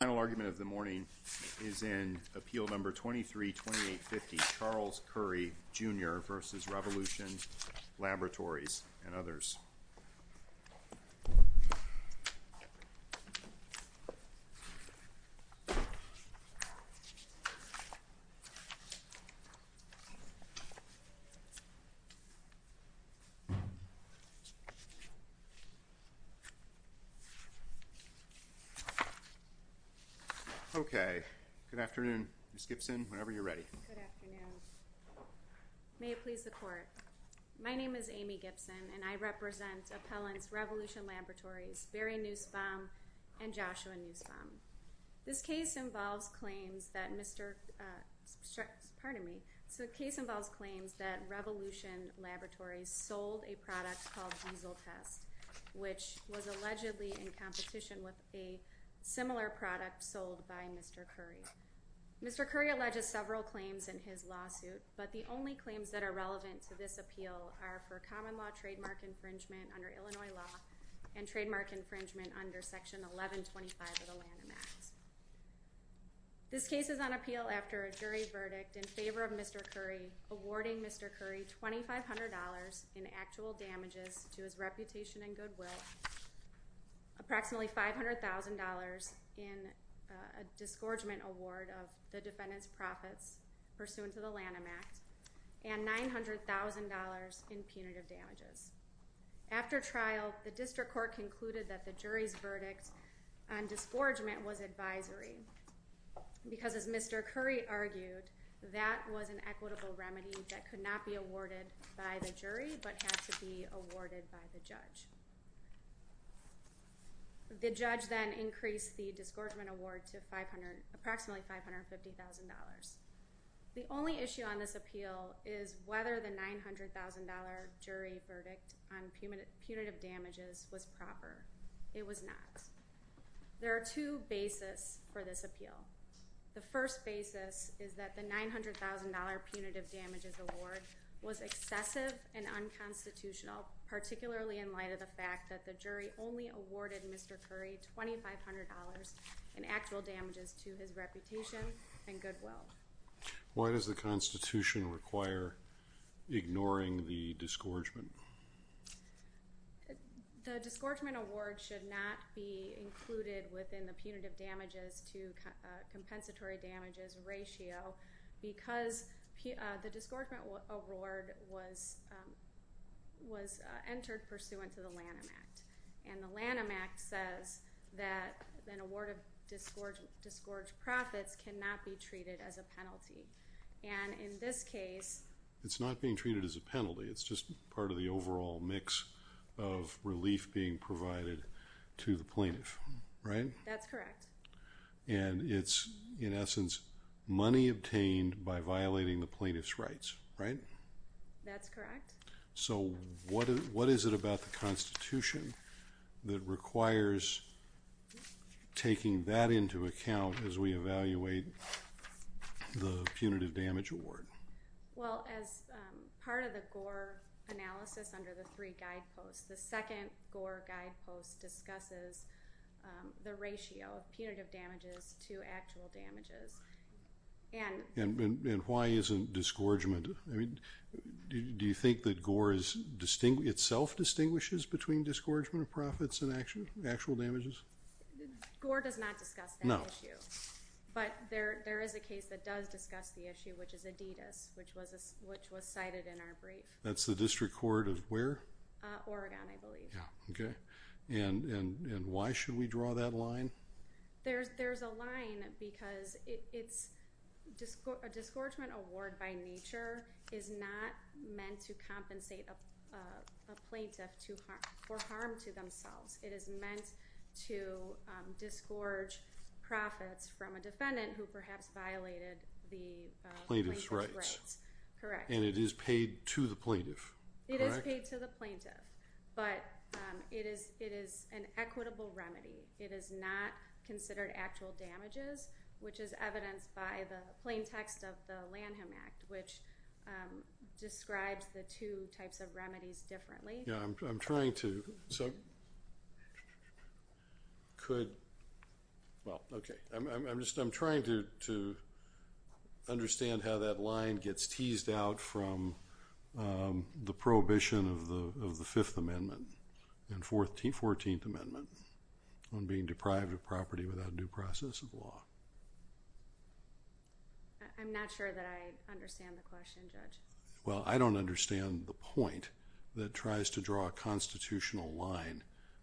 The final argument of the morning is in Appeal No. 23-2850, Charles Curry, Jr. v. Revolution Laboratories, and others. Okay, good afternoon. Ms. Gibson, whenever you're ready. Good afternoon. May it please the Court. My name is Amy Gibson, and I represent Appellants Revolution Laboratories, Barry Nussbaum and Joshua Nussbaum. This case involves claims that Revolution Laboratories sold a product called Easeltest, which was allegedly in competition with a similar product sold by Mr. Curry. Mr. Curry alleges several claims in his lawsuit, but the only claims that are relevant to this appeal are for common law trademark infringement under Illinois law and trademark infringement under Section 1125 of the Land-A-Max. This case is on appeal after a jury verdict in favor of Mr. Curry awarding Mr. Curry $2,500 in actual damages to his reputation and goodwill, approximately $500,000 in a disgorgement award of the defendant's profits pursuant to the Land-A-Max, and $900,000 in punitive damages. After trial, the District Court concluded that the jury's verdict on disgorgement was advisory because, as Mr. Curry argued, that was an equitable remedy that could not be awarded by the jury but had to be awarded by the judge. The judge then increased the disgorgement award to approximately $550,000. The only issue on this appeal is whether the $900,000 jury verdict on punitive damages was proper. It was not. There are two basis for this appeal. The first basis is that the $900,000 punitive damages award was excessive and unconstitutional, particularly in light of the fact that the jury only awarded Mr. Curry $2,500 in actual damages to his reputation and goodwill. Why does the Constitution require ignoring the disgorgement? The disgorgement award should not be included within the punitive damages to compensatory damages ratio because the disgorgement award was entered pursuant to the Land-A-Max. The Land-A-Max says that an award of disgorged profits cannot be treated as a penalty. In this case, it is not being treated as a penalty. It is just part of the overall mix of relief being provided to the plaintiff. That is correct. It is, in essence, money obtained by violating the plaintiff's rights. That is correct. What is it about the Constitution that requires taking that into account as we evaluate the punitive damage award? As part of the Gore analysis under the three guideposts, the second Gore guidepost discusses the ratio of punitive damages to actual damages. Why is it not disgorgement? Do you think that itself distinguishes between disgorgement of profits and actual damages? Gore does not discuss that issue, but there is a case that does discuss the issue, which is Adidas, which was cited in our brief. That is the District Court of where? Oregon, I believe. Why should we draw that line? There is a line because a disgorgement award by a plaintiff for harm to themselves. It is meant to disgorge profits from a defendant who perhaps violated the plaintiff's rights. Plaintiff's rights. Correct. And it is paid to the plaintiff, correct? It is paid to the plaintiff, but it is an equitable remedy. It is not considered actual damages, which is evidenced by the plain text of the Lanham Act, which describes the two types of remedies differently. I am trying to understand how that line gets teased out from the prohibition of the Fifth Amendment and 14th Amendment on being deprived of property without due process of law. I am not sure that I understand the question, Judge. Well, I do not understand the point that tries to draw a constitutional line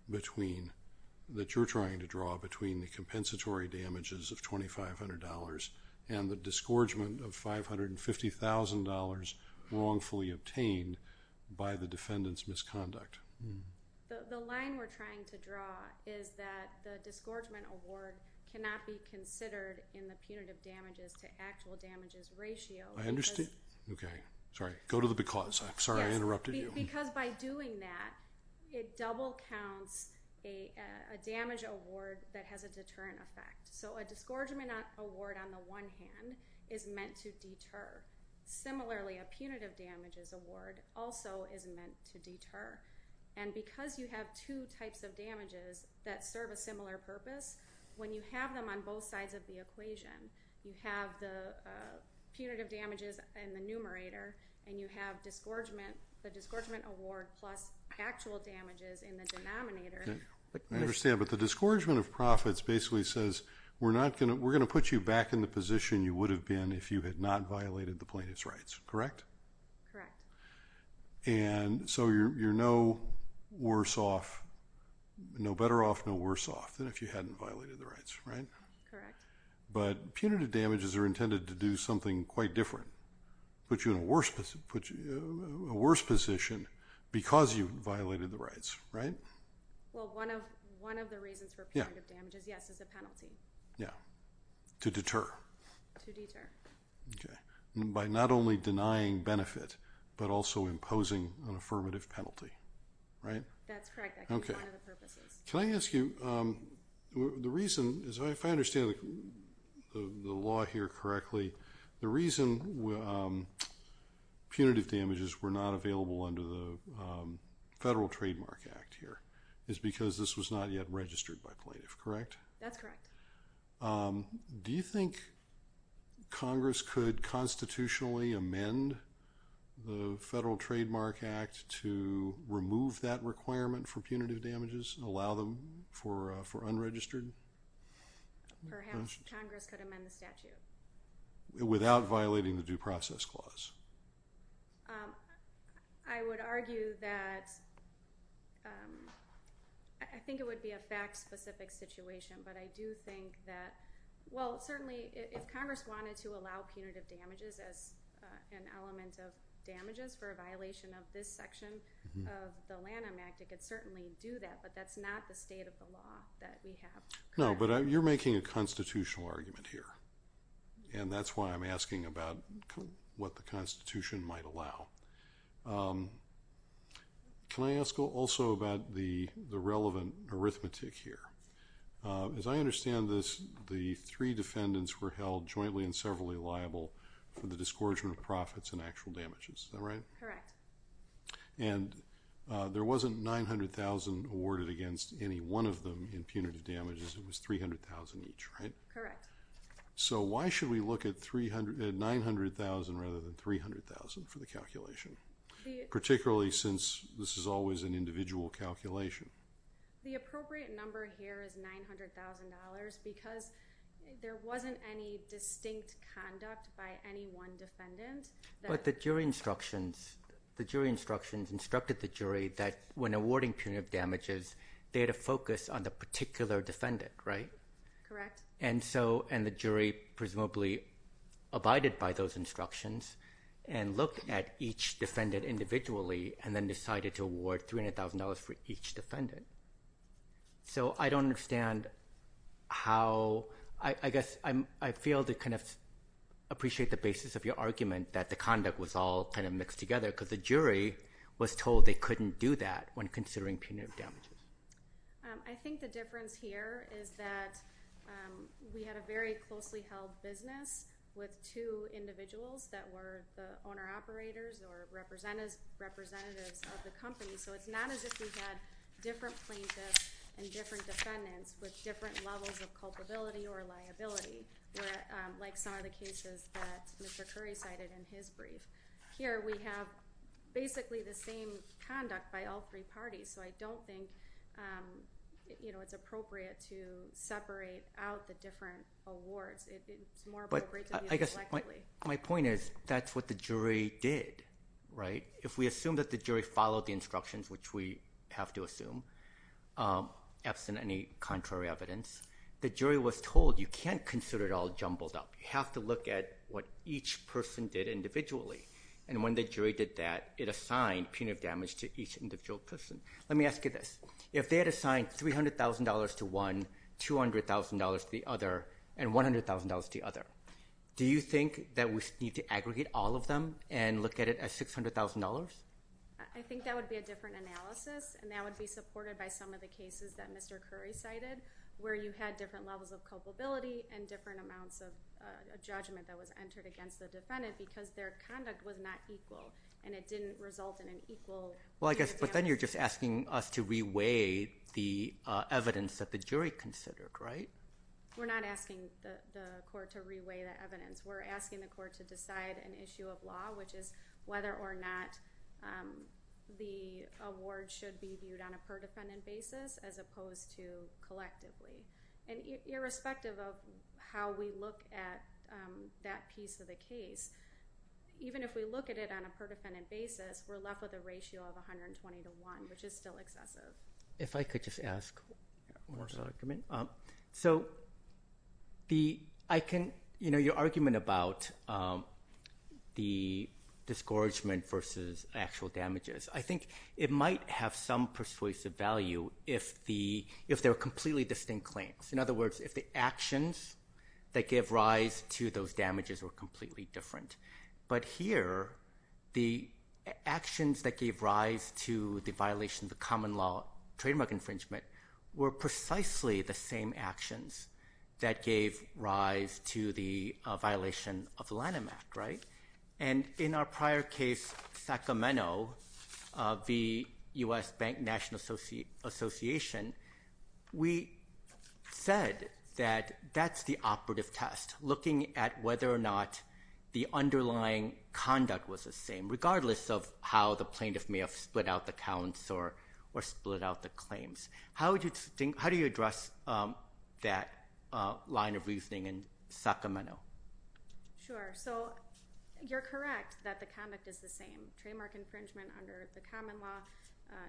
that you are trying to draw between the compensatory damages of $2,500 and the disgorgement of $550,000 wrongfully obtained by the defendant's misconduct. The line we are trying to draw is that the damages of $2,500 and $550,000 are not considered in the punitive damages to actual damages ratio. I understand. Okay. Sorry. Go to the because. I am sorry I interrupted you. Yes. Because by doing that, it double counts a damage award that has a deterrent effect. So a disgorgement award on the one hand is meant to deter. Similarly, a punitive damages award also is meant to deter. And because you have two types of damages that serve a similar purpose, when you have them on both sides of the equation, you have the punitive damages in the numerator and you have the disgorgement award plus actual damages in the denominator. I understand. But the disgorgement of profits basically says we are going to put you back in the position you would have been if you had not violated the plaintiff's rights. Correct? Correct. And so you are no worse off, no better off, no worse off than if you had not violated the rights, right? Correct. But punitive damages are intended to do something quite different. Put you in a worse position because you violated the rights, right? Well, one of the reasons for punitive damages, yes, is a penalty. Yeah. To deter. To deter. Okay. By not only denying benefit, but also imposing an affirmative penalty, right? That's correct. That's one of the purposes. Can I ask you, the reason, if I understand the law here correctly, the reason punitive damages were not available under the Federal Trademark Act here is because this was not yet registered by plaintiff, correct? That's correct. Do you think Congress could constitutionally amend the Federal Trademark Act to remove that requirement for punitive damages and allow them for unregistered? Perhaps Congress could amend the statute. Without violating the Due Process Clause? I would argue that, I think it would be a fact-specific situation, but I do think that, well, certainly if Congress wanted to allow punitive damages as an element of damages for a violation of this section of the Lanham Act, it could certainly do that, but that's not the state of the law that we have. No, but you're making a constitutional argument here, and that's why I'm asking about what the Constitution might allow. Can I ask also about the relevant arithmetic here? As I understand this, the three defendants were held jointly and severally liable for the disgorgement of profits and actual damages, is that right? Correct. And there wasn't 900,000 awarded against any one of them in punitive damages, it was 300,000 each, right? Correct. So why should we look at 900,000 rather than 300,000 for the calculation, particularly since this is always an individual calculation? The appropriate number here is $900,000 because there wasn't any distinct conduct by any one defendant. But the jury instructions, the jury instructions instructed the jury that when awarding punitive damages, they had to focus on the particular defendant, right? Correct. And so, and the jury presumably abided by those instructions and looked at each defendant individually and then decided to award $300,000 for each defendant. So I don't understand how, I guess I feel to kind of appreciate the basis of your argument that the conduct was all kind of mixed together because the jury was told they couldn't do that when considering punitive damages. I think the difference here is that we had a very closely held business with two individuals that were the owner-operators or representatives of the company. So it's not as if we had different plaintiffs and different defendants with different levels of culpability or liability, like some of the cases that Mr. Curry cited in his brief. Here we have basically the same conduct by all three parties. So I don't think it's appropriate to separate out the different awards. It's more appropriate to view them collectively. But I guess my point is that's what the jury did, right? If we assume that the jury followed the instructions, which we have to assume, absent any contrary evidence, the jury was told you can't consider it all jumbled up. You have to look at what each person did individually, and when the jury did that, it assigned punitive damage to each individual person. Let me ask you this. If they had assigned $300,000 to one, $200,000 to the other, and $100,000 to the other, do you think that we need to aggregate all of them and look at it as $600,000? I think that would be a different analysis, and that would be supported by some of the cases that Mr. Curry cited where you had different levels of culpability and different amounts of judgment that was entered against the defendant because their conduct was not equal, and it didn't result in an equal punitive damage. But then you're just asking us to reweigh the evidence that the jury considered, right? We're not asking the court to reweigh the evidence. We're asking the court to decide an issue of law, which is whether or not the award should be viewed on a per-defendant basis as opposed to collectively. Irrespective of how we look at that piece of the case, even if we look at it on a per-defendant basis, we're left with a ratio of 120 to 1, which is still excessive. If I could just ask one more argument. Your argument about the discouragement versus actual damages, I think it might have some persuasive value if they're completely distinct claims. In other words, if the actions that gave rise to those damages were completely different. But here, the actions that gave rise to the violation of the common law trademark infringement were precisely the same actions that gave rise to the violation of the Lanham Act, right? In our prior case, Sacramento v. U.S. Bank National Association, we said that that's the operative test, looking at whether or not the underlying conduct was the same, regardless of how the plaintiff may have split out the counts or split out the claims. How do you address that line of reasoning in Sacramento? Sure. You're correct that the conduct is the same. Trademark infringement under the common law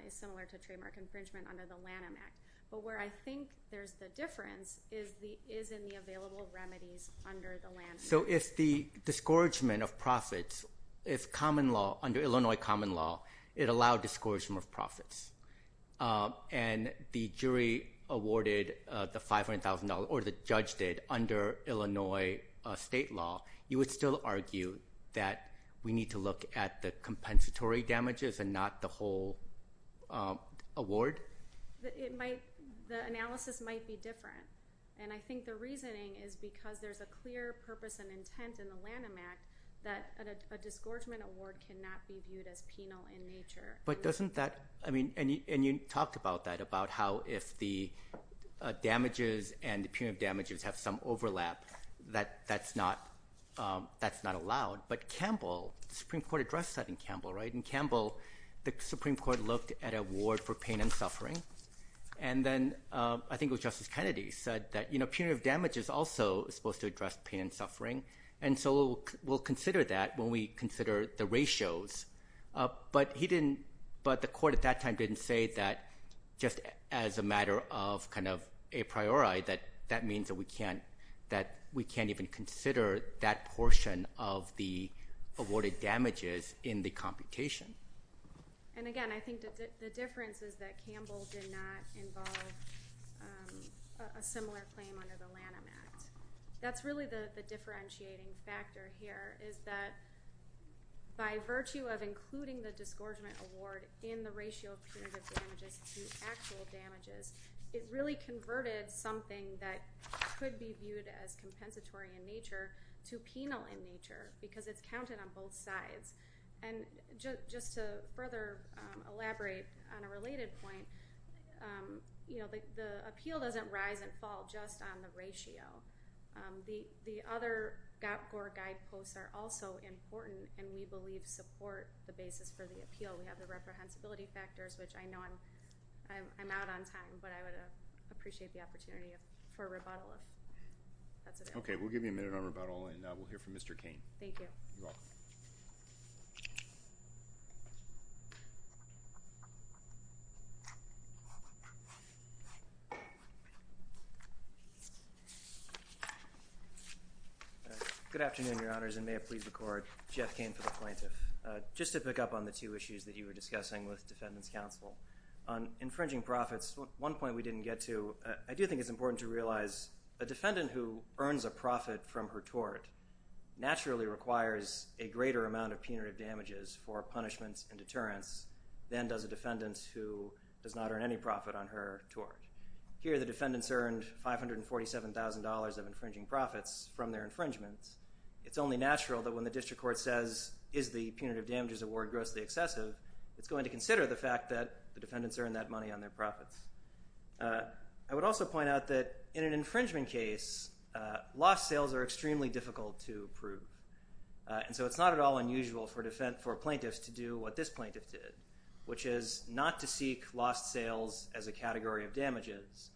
is similar to trademark infringement under the Lanham Act. But where I think there's the difference is in the available remedies under the Lanham Act. So if the discouragement of profits is common law, under Illinois common law, it allowed discouragement of profits, and the jury awarded the $500,000 or the judge did under Illinois state law, you would still argue that we need to look at the compensatory damages and not the whole award? The analysis might be different, and I think the reasoning is because there's a clear purpose and intent in the Lanham Act that a disgorgement award cannot be viewed as penal in nature. But doesn't that ñ and you talked about that, about how if the damages and the punitive damages have some overlap, that's not allowed. But Campbell, the Supreme Court addressed that in Campbell, right? In Campbell, the Supreme Court looked at award for pain and suffering, and then I think it was Justice Kennedy said that punitive damage is also supposed to address pain and suffering, and so we'll consider that when we consider the ratios. But the court at that time didn't say that just as a matter of kind of a priori, that that means that we can't even consider that portion of the awarded damages in the computation. And again, I think the difference is that Campbell did not involve a similar claim under the Lanham Act. That's really the differentiating factor here, is that by virtue of including the disgorgement award in the ratio of punitive damages to actual damages, it really converted something that could be viewed as compensatory in nature to penal in nature, because it's counted on both sides. And just to further elaborate on a related point, the appeal doesn't rise and fall just on the ratio. The other GOPCOR guideposts are also important and we believe support the basis for the appeal. We have the reprehensibility factors, which I know I'm out on time, but I would appreciate the opportunity for a rebuttal if that's available. Okay. We'll give you a minute on rebuttal and we'll hear from Mr. Cain. Thank you. You're welcome. Good afternoon, Your Honors, and may I please record Jeff Cain for the plaintiff. Just to pick up on the two issues that you were discussing with defendants counsel. On infringing profits, one point we didn't get to. I do think it's important to realize a defendant who earns a profit from her tort naturally requires a greater amount of punitive damages for punishments and deterrence than does a defendant who does not earn any profit on her tort. Here the defendants earned $547,000 of infringing profits from their infringements. It's only natural that when the district court says, is the punitive damages award grossly excessive, it's going to consider the fact that the defendants earned that money on their profits. I would also point out that in an infringement case, lost sales are extremely difficult to prove. And so it's not at all unusual for plaintiffs to do what this plaintiff did, which is not to seek lost sales as a category of damages,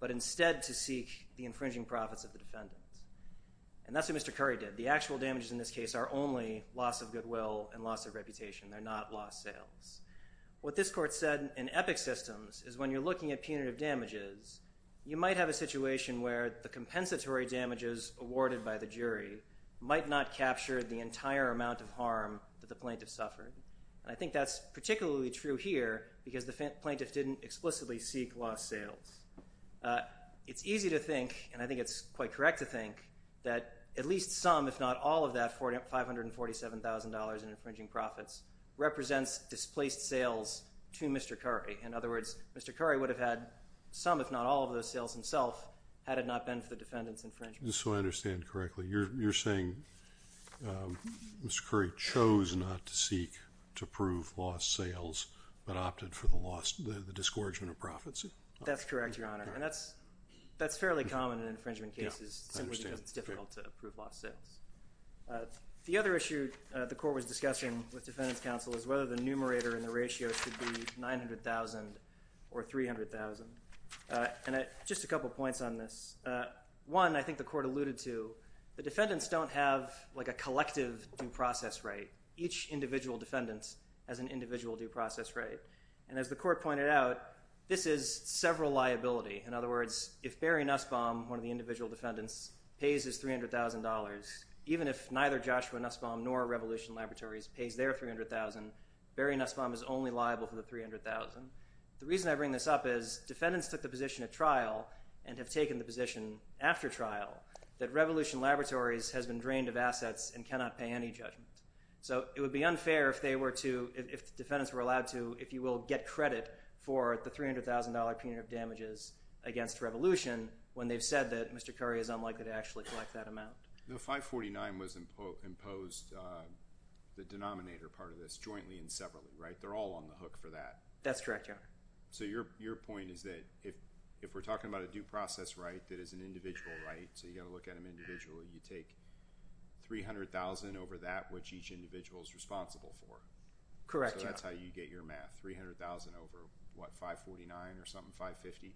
but instead to seek the infringing profits of the defendants. And that's what Mr. Curry did. The actual damages in this case are only loss of goodwill and loss of reputation. They're not lost sales. What this court said in Epic Systems is when you're looking at punitive damages, you might have a situation where the compensatory damages awarded by the jury might not capture the entire amount of harm that the plaintiff suffered. And I think that's particularly true here because the plaintiff didn't explicitly seek lost sales. It's easy to think, and I think it's quite correct to think, that at least some, if not all, of that $547,000 in infringing profits represents displaced sales to Mr. Curry. In other words, Mr. Curry would have had some, if not all, of those sales himself had it not been for the defendant's infringement. So I understand correctly. You're saying Mr. Curry chose not to seek to prove lost sales but opted for the discouragement of profits? That's correct, Your Honor. And that's fairly common in infringement cases simply because it's difficult to prove lost sales. The other issue the court was discussing with defendants' counsel is whether the numerator and the ratio should be 900,000 or 300,000. And just a couple points on this. One, I think the court alluded to, the defendants don't have a collective due process right. Each individual defendant has an individual due process right. And as the court pointed out, this is several liability. In other words, if Barry Nussbaum, one of the individual defendants, pays his $300,000, even if neither Joshua Nussbaum nor Revolution Laboratories pays their $300,000, Barry Nussbaum is only liable for the $300,000. The reason I bring this up is defendants took the position at trial and have taken the position after trial that Revolution Laboratories has been drained of assets and cannot pay any judgment. So it would be unfair if the defendants were allowed to, if you will, get credit for the $300,000 punitive damages against Revolution when they've said that Mr. Curry is unlikely to actually collect that amount. No, 549 was imposed, the denominator part of this, jointly and separately, right? They're all on the hook for that. That's correct, Your Honor. So your point is that if we're talking about a due process right that is an individual right, so you've got to look at them individually, you take $300,000 over that which each individual is responsible for. Correct, Your Honor. So that's how you get your math. $300,000 over what, 549 or something, 550?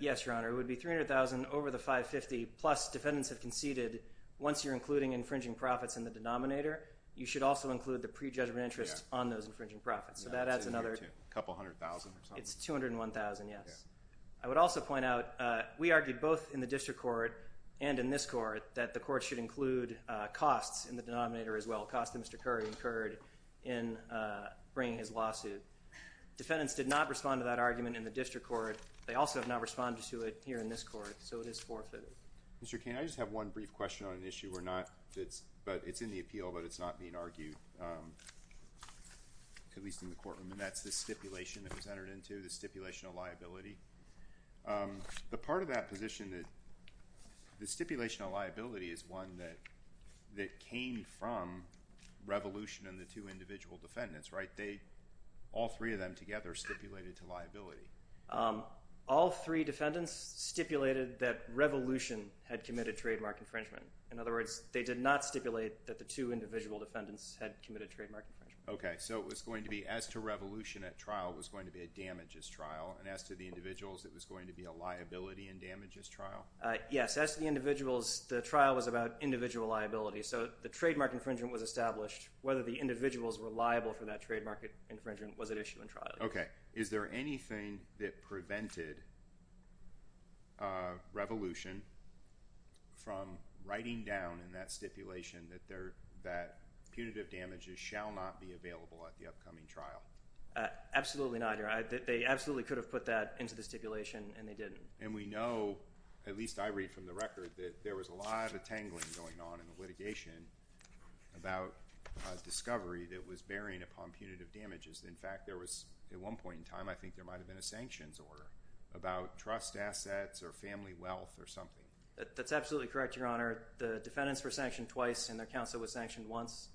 Yes, Your Honor. It would be $300,000 over the 550 plus defendants have conceded once you're including infringing profits in the denominator, you should also include the pre-judgment interest on those infringing profits. So that adds another $200,000 or something. It's $201,000, yes. I would also point out we argued both in the district court and in this court that the court should include costs in the denominator as well, costs that Mr. Curry incurred in bringing his lawsuit. Defendants did not respond to that argument in the district court. They also have not responded to it here in this court, so it is forfeited. Mr. Cain, I just have one brief question on an issue where it's in the appeal but it's not being argued, at least in the courtroom, and that's the stipulation that was entered into, the stipulation of liability. The part of that position that the stipulation of liability is one that came from Revolution and the two individual defendants, right? All three of them together stipulated to liability. All three defendants stipulated that Revolution had committed trademark infringement. In other words, they did not stipulate that the two individual defendants had committed trademark infringement. Okay, so it was going to be as to Revolution at trial was going to be a damages trial, and as to the individuals, it was going to be a liability and damages trial? Yes, as to the individuals, the trial was about individual liability, so the trademark infringement was established. Whether the individuals were liable for that trademark infringement was at issue in trial. Okay, is there anything that prevented Revolution from writing down in that stipulation that punitive damages shall not be available at the upcoming trial? Absolutely not, Your Honor. They absolutely could have put that into the stipulation, and they didn't. And we know, at least I read from the record, that there was a lot of tangling going on in the litigation about discovery that was bearing upon punitive damages. In fact, there was, at one point in time, I think there might have been a sanctions order about trust assets or family wealth or something. That's absolutely correct, Your Honor. The defendants were sanctioned twice and their counsel was sanctioned once.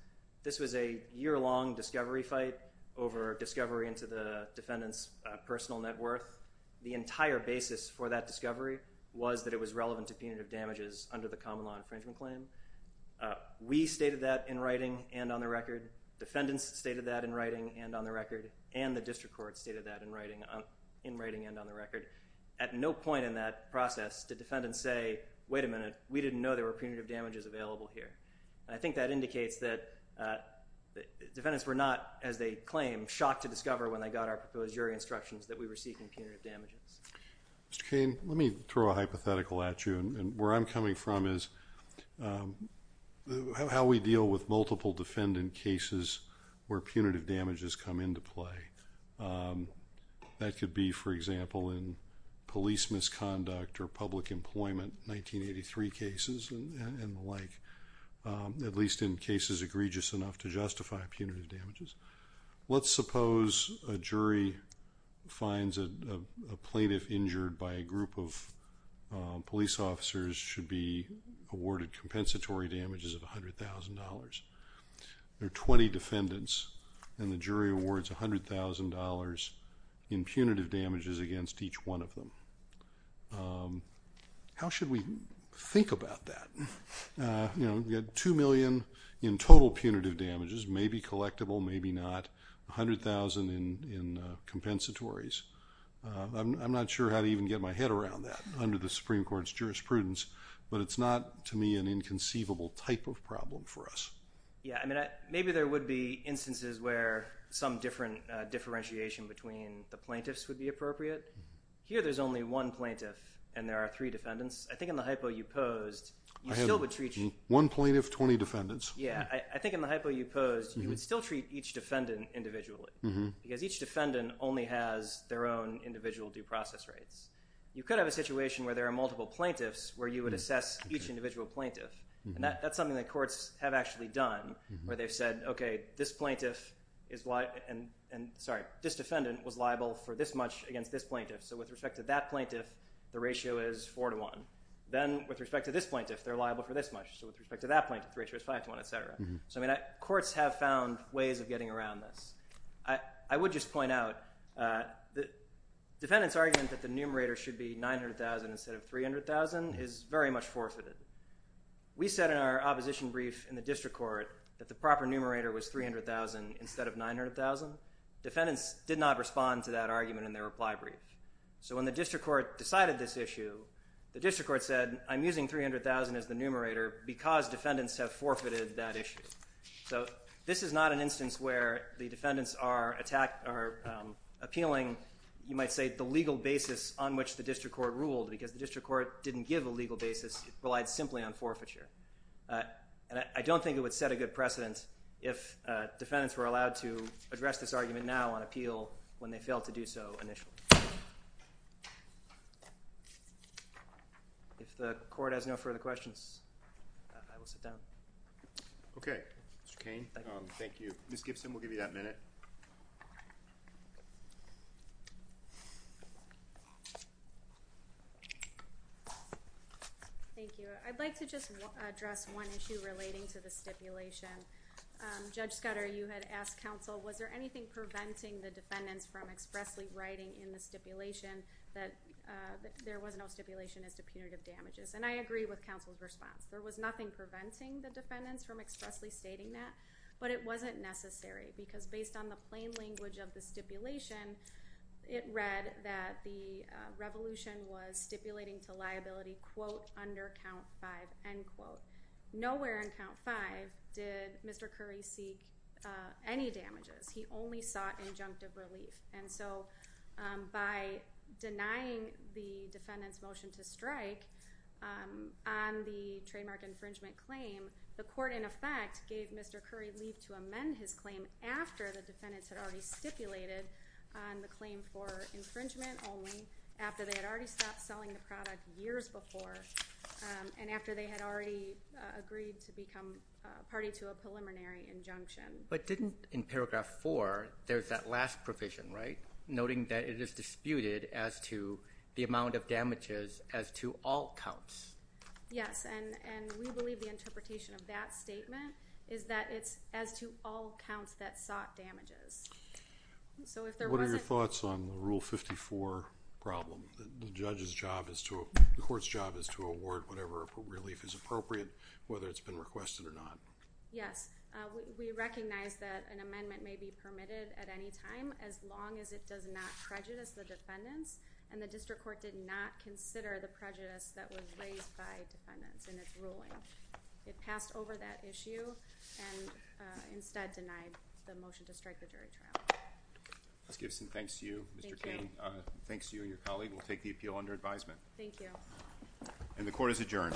This was a year-long discovery fight over discovery into the defendant's personal net worth. The entire basis for that discovery was that it was relevant to punitive damages under the common law infringement claim. We stated that in writing and on the record. Defendants stated that in writing and on the record, and the district court stated that in writing and on the record. At no point in that process did defendants say, wait a minute, we didn't know there were punitive damages available here. I think that indicates that defendants were not, as they claim, shocked to discover when they got our proposed jury instructions that we were seeking punitive damages. Mr. Cain, let me throw a hypothetical at you. Where I'm coming from is how we deal with multiple defendant cases where punitive damages come into play. That could be, for example, in police misconduct or public employment, 1983 cases and the like, at least in cases egregious enough to justify punitive damages. Let's suppose a jury finds a plaintiff injured by a group of police officers should be awarded compensatory damages of $100,000. There are 20 defendants, and the jury awards $100,000 in punitive damages against each one of them. How should we think about that? We've got $2 million in total punitive damages, maybe collectible, maybe not, $100,000 in compensatories. I'm not sure how to even get my head around that under the Supreme Court's jurisprudence, but it's not, to me, an inconceivable type of problem for us. Maybe there would be instances where some different differentiation between the plaintiffs would be appropriate. Here there's only one plaintiff, and there are three defendants. I think in the hypo you posed, you still would treat... I have one plaintiff, 20 defendants. Yeah, I think in the hypo you posed, you would still treat each defendant individually because each defendant only has their own individual due process rights. You could have a situation where there are multiple plaintiffs where you would assess each individual plaintiff, and that's something that courts have actually done where they've said, okay, this defendant was liable for this much against this plaintiff, so with respect to that plaintiff, the ratio is 4 to 1. Then with respect to this plaintiff, they're liable for this much, so with respect to that plaintiff, the ratio is 5 to 1, etc. Courts have found ways of getting around this. I would just point out the defendant's argument that the numerator should be 900,000 instead of 300,000 is very much forfeited. We said in our opposition brief in the district court that the proper numerator was 300,000 instead of 900,000. Defendants did not respond to that argument in their reply brief. When the district court decided this issue, the district court said, I'm using 300,000 as the numerator because defendants have forfeited that issue. This is not an instance where the defendants are appealing, you might say, the legal basis on which the district court ruled because the district court didn't give a legal basis. It relied simply on forfeiture. I don't think it would set a good precedent if defendants were allowed to address this argument now on appeal when they failed to do so initially. If the court has no further questions, I will sit down. Okay. Mr. Cain, thank you. Ms. Gibson, we'll give you that minute. Thank you. I'd like to just address one issue relating to the stipulation. Judge Scudder, you had asked counsel, was there anything preventing the defendants from expressly writing in the stipulation that there was no stipulation as to punitive damages? And I agree with counsel's response. There was nothing preventing the defendants from expressly stating that, but it wasn't necessary because based on the plain language of the stipulation, it read that the revolution was stipulating to liability, quote, under count five, end quote. Nowhere in count five did Mr. Curry seek any damages. He only sought injunctive relief. And so by denying the defendant's motion to strike on the trademark infringement claim, the court in effect gave Mr. Curry leave to amend his claim after the defendants had already stipulated on the claim for infringement only, after they had already stopped selling the product years before, and after they had already agreed to become party to a preliminary injunction. But didn't, in paragraph four, there's that last provision, right? Noting that it is disputed as to the amount of damages as to all counts. Yes, and we believe the interpretation of that statement is that it's as to all counts that sought damages. So if there wasn't... What are your thoughts on the Rule 54 problem? The judge's job is to... The court's job is to award whatever relief is appropriate, whether it's been requested or not. Yes, we recognize that an amendment may be permitted at any time as long as it does not prejudice the defendants, and the district court did not consider the prejudice that was raised by defendants in its ruling. It passed over that issue and instead denied the motion to strike the jury trial. Ms. Gibson, thanks to you. Thank you. And thanks to you and your colleague. We'll take the appeal under advisement. Thank you. And the court is adjourned. Thank you.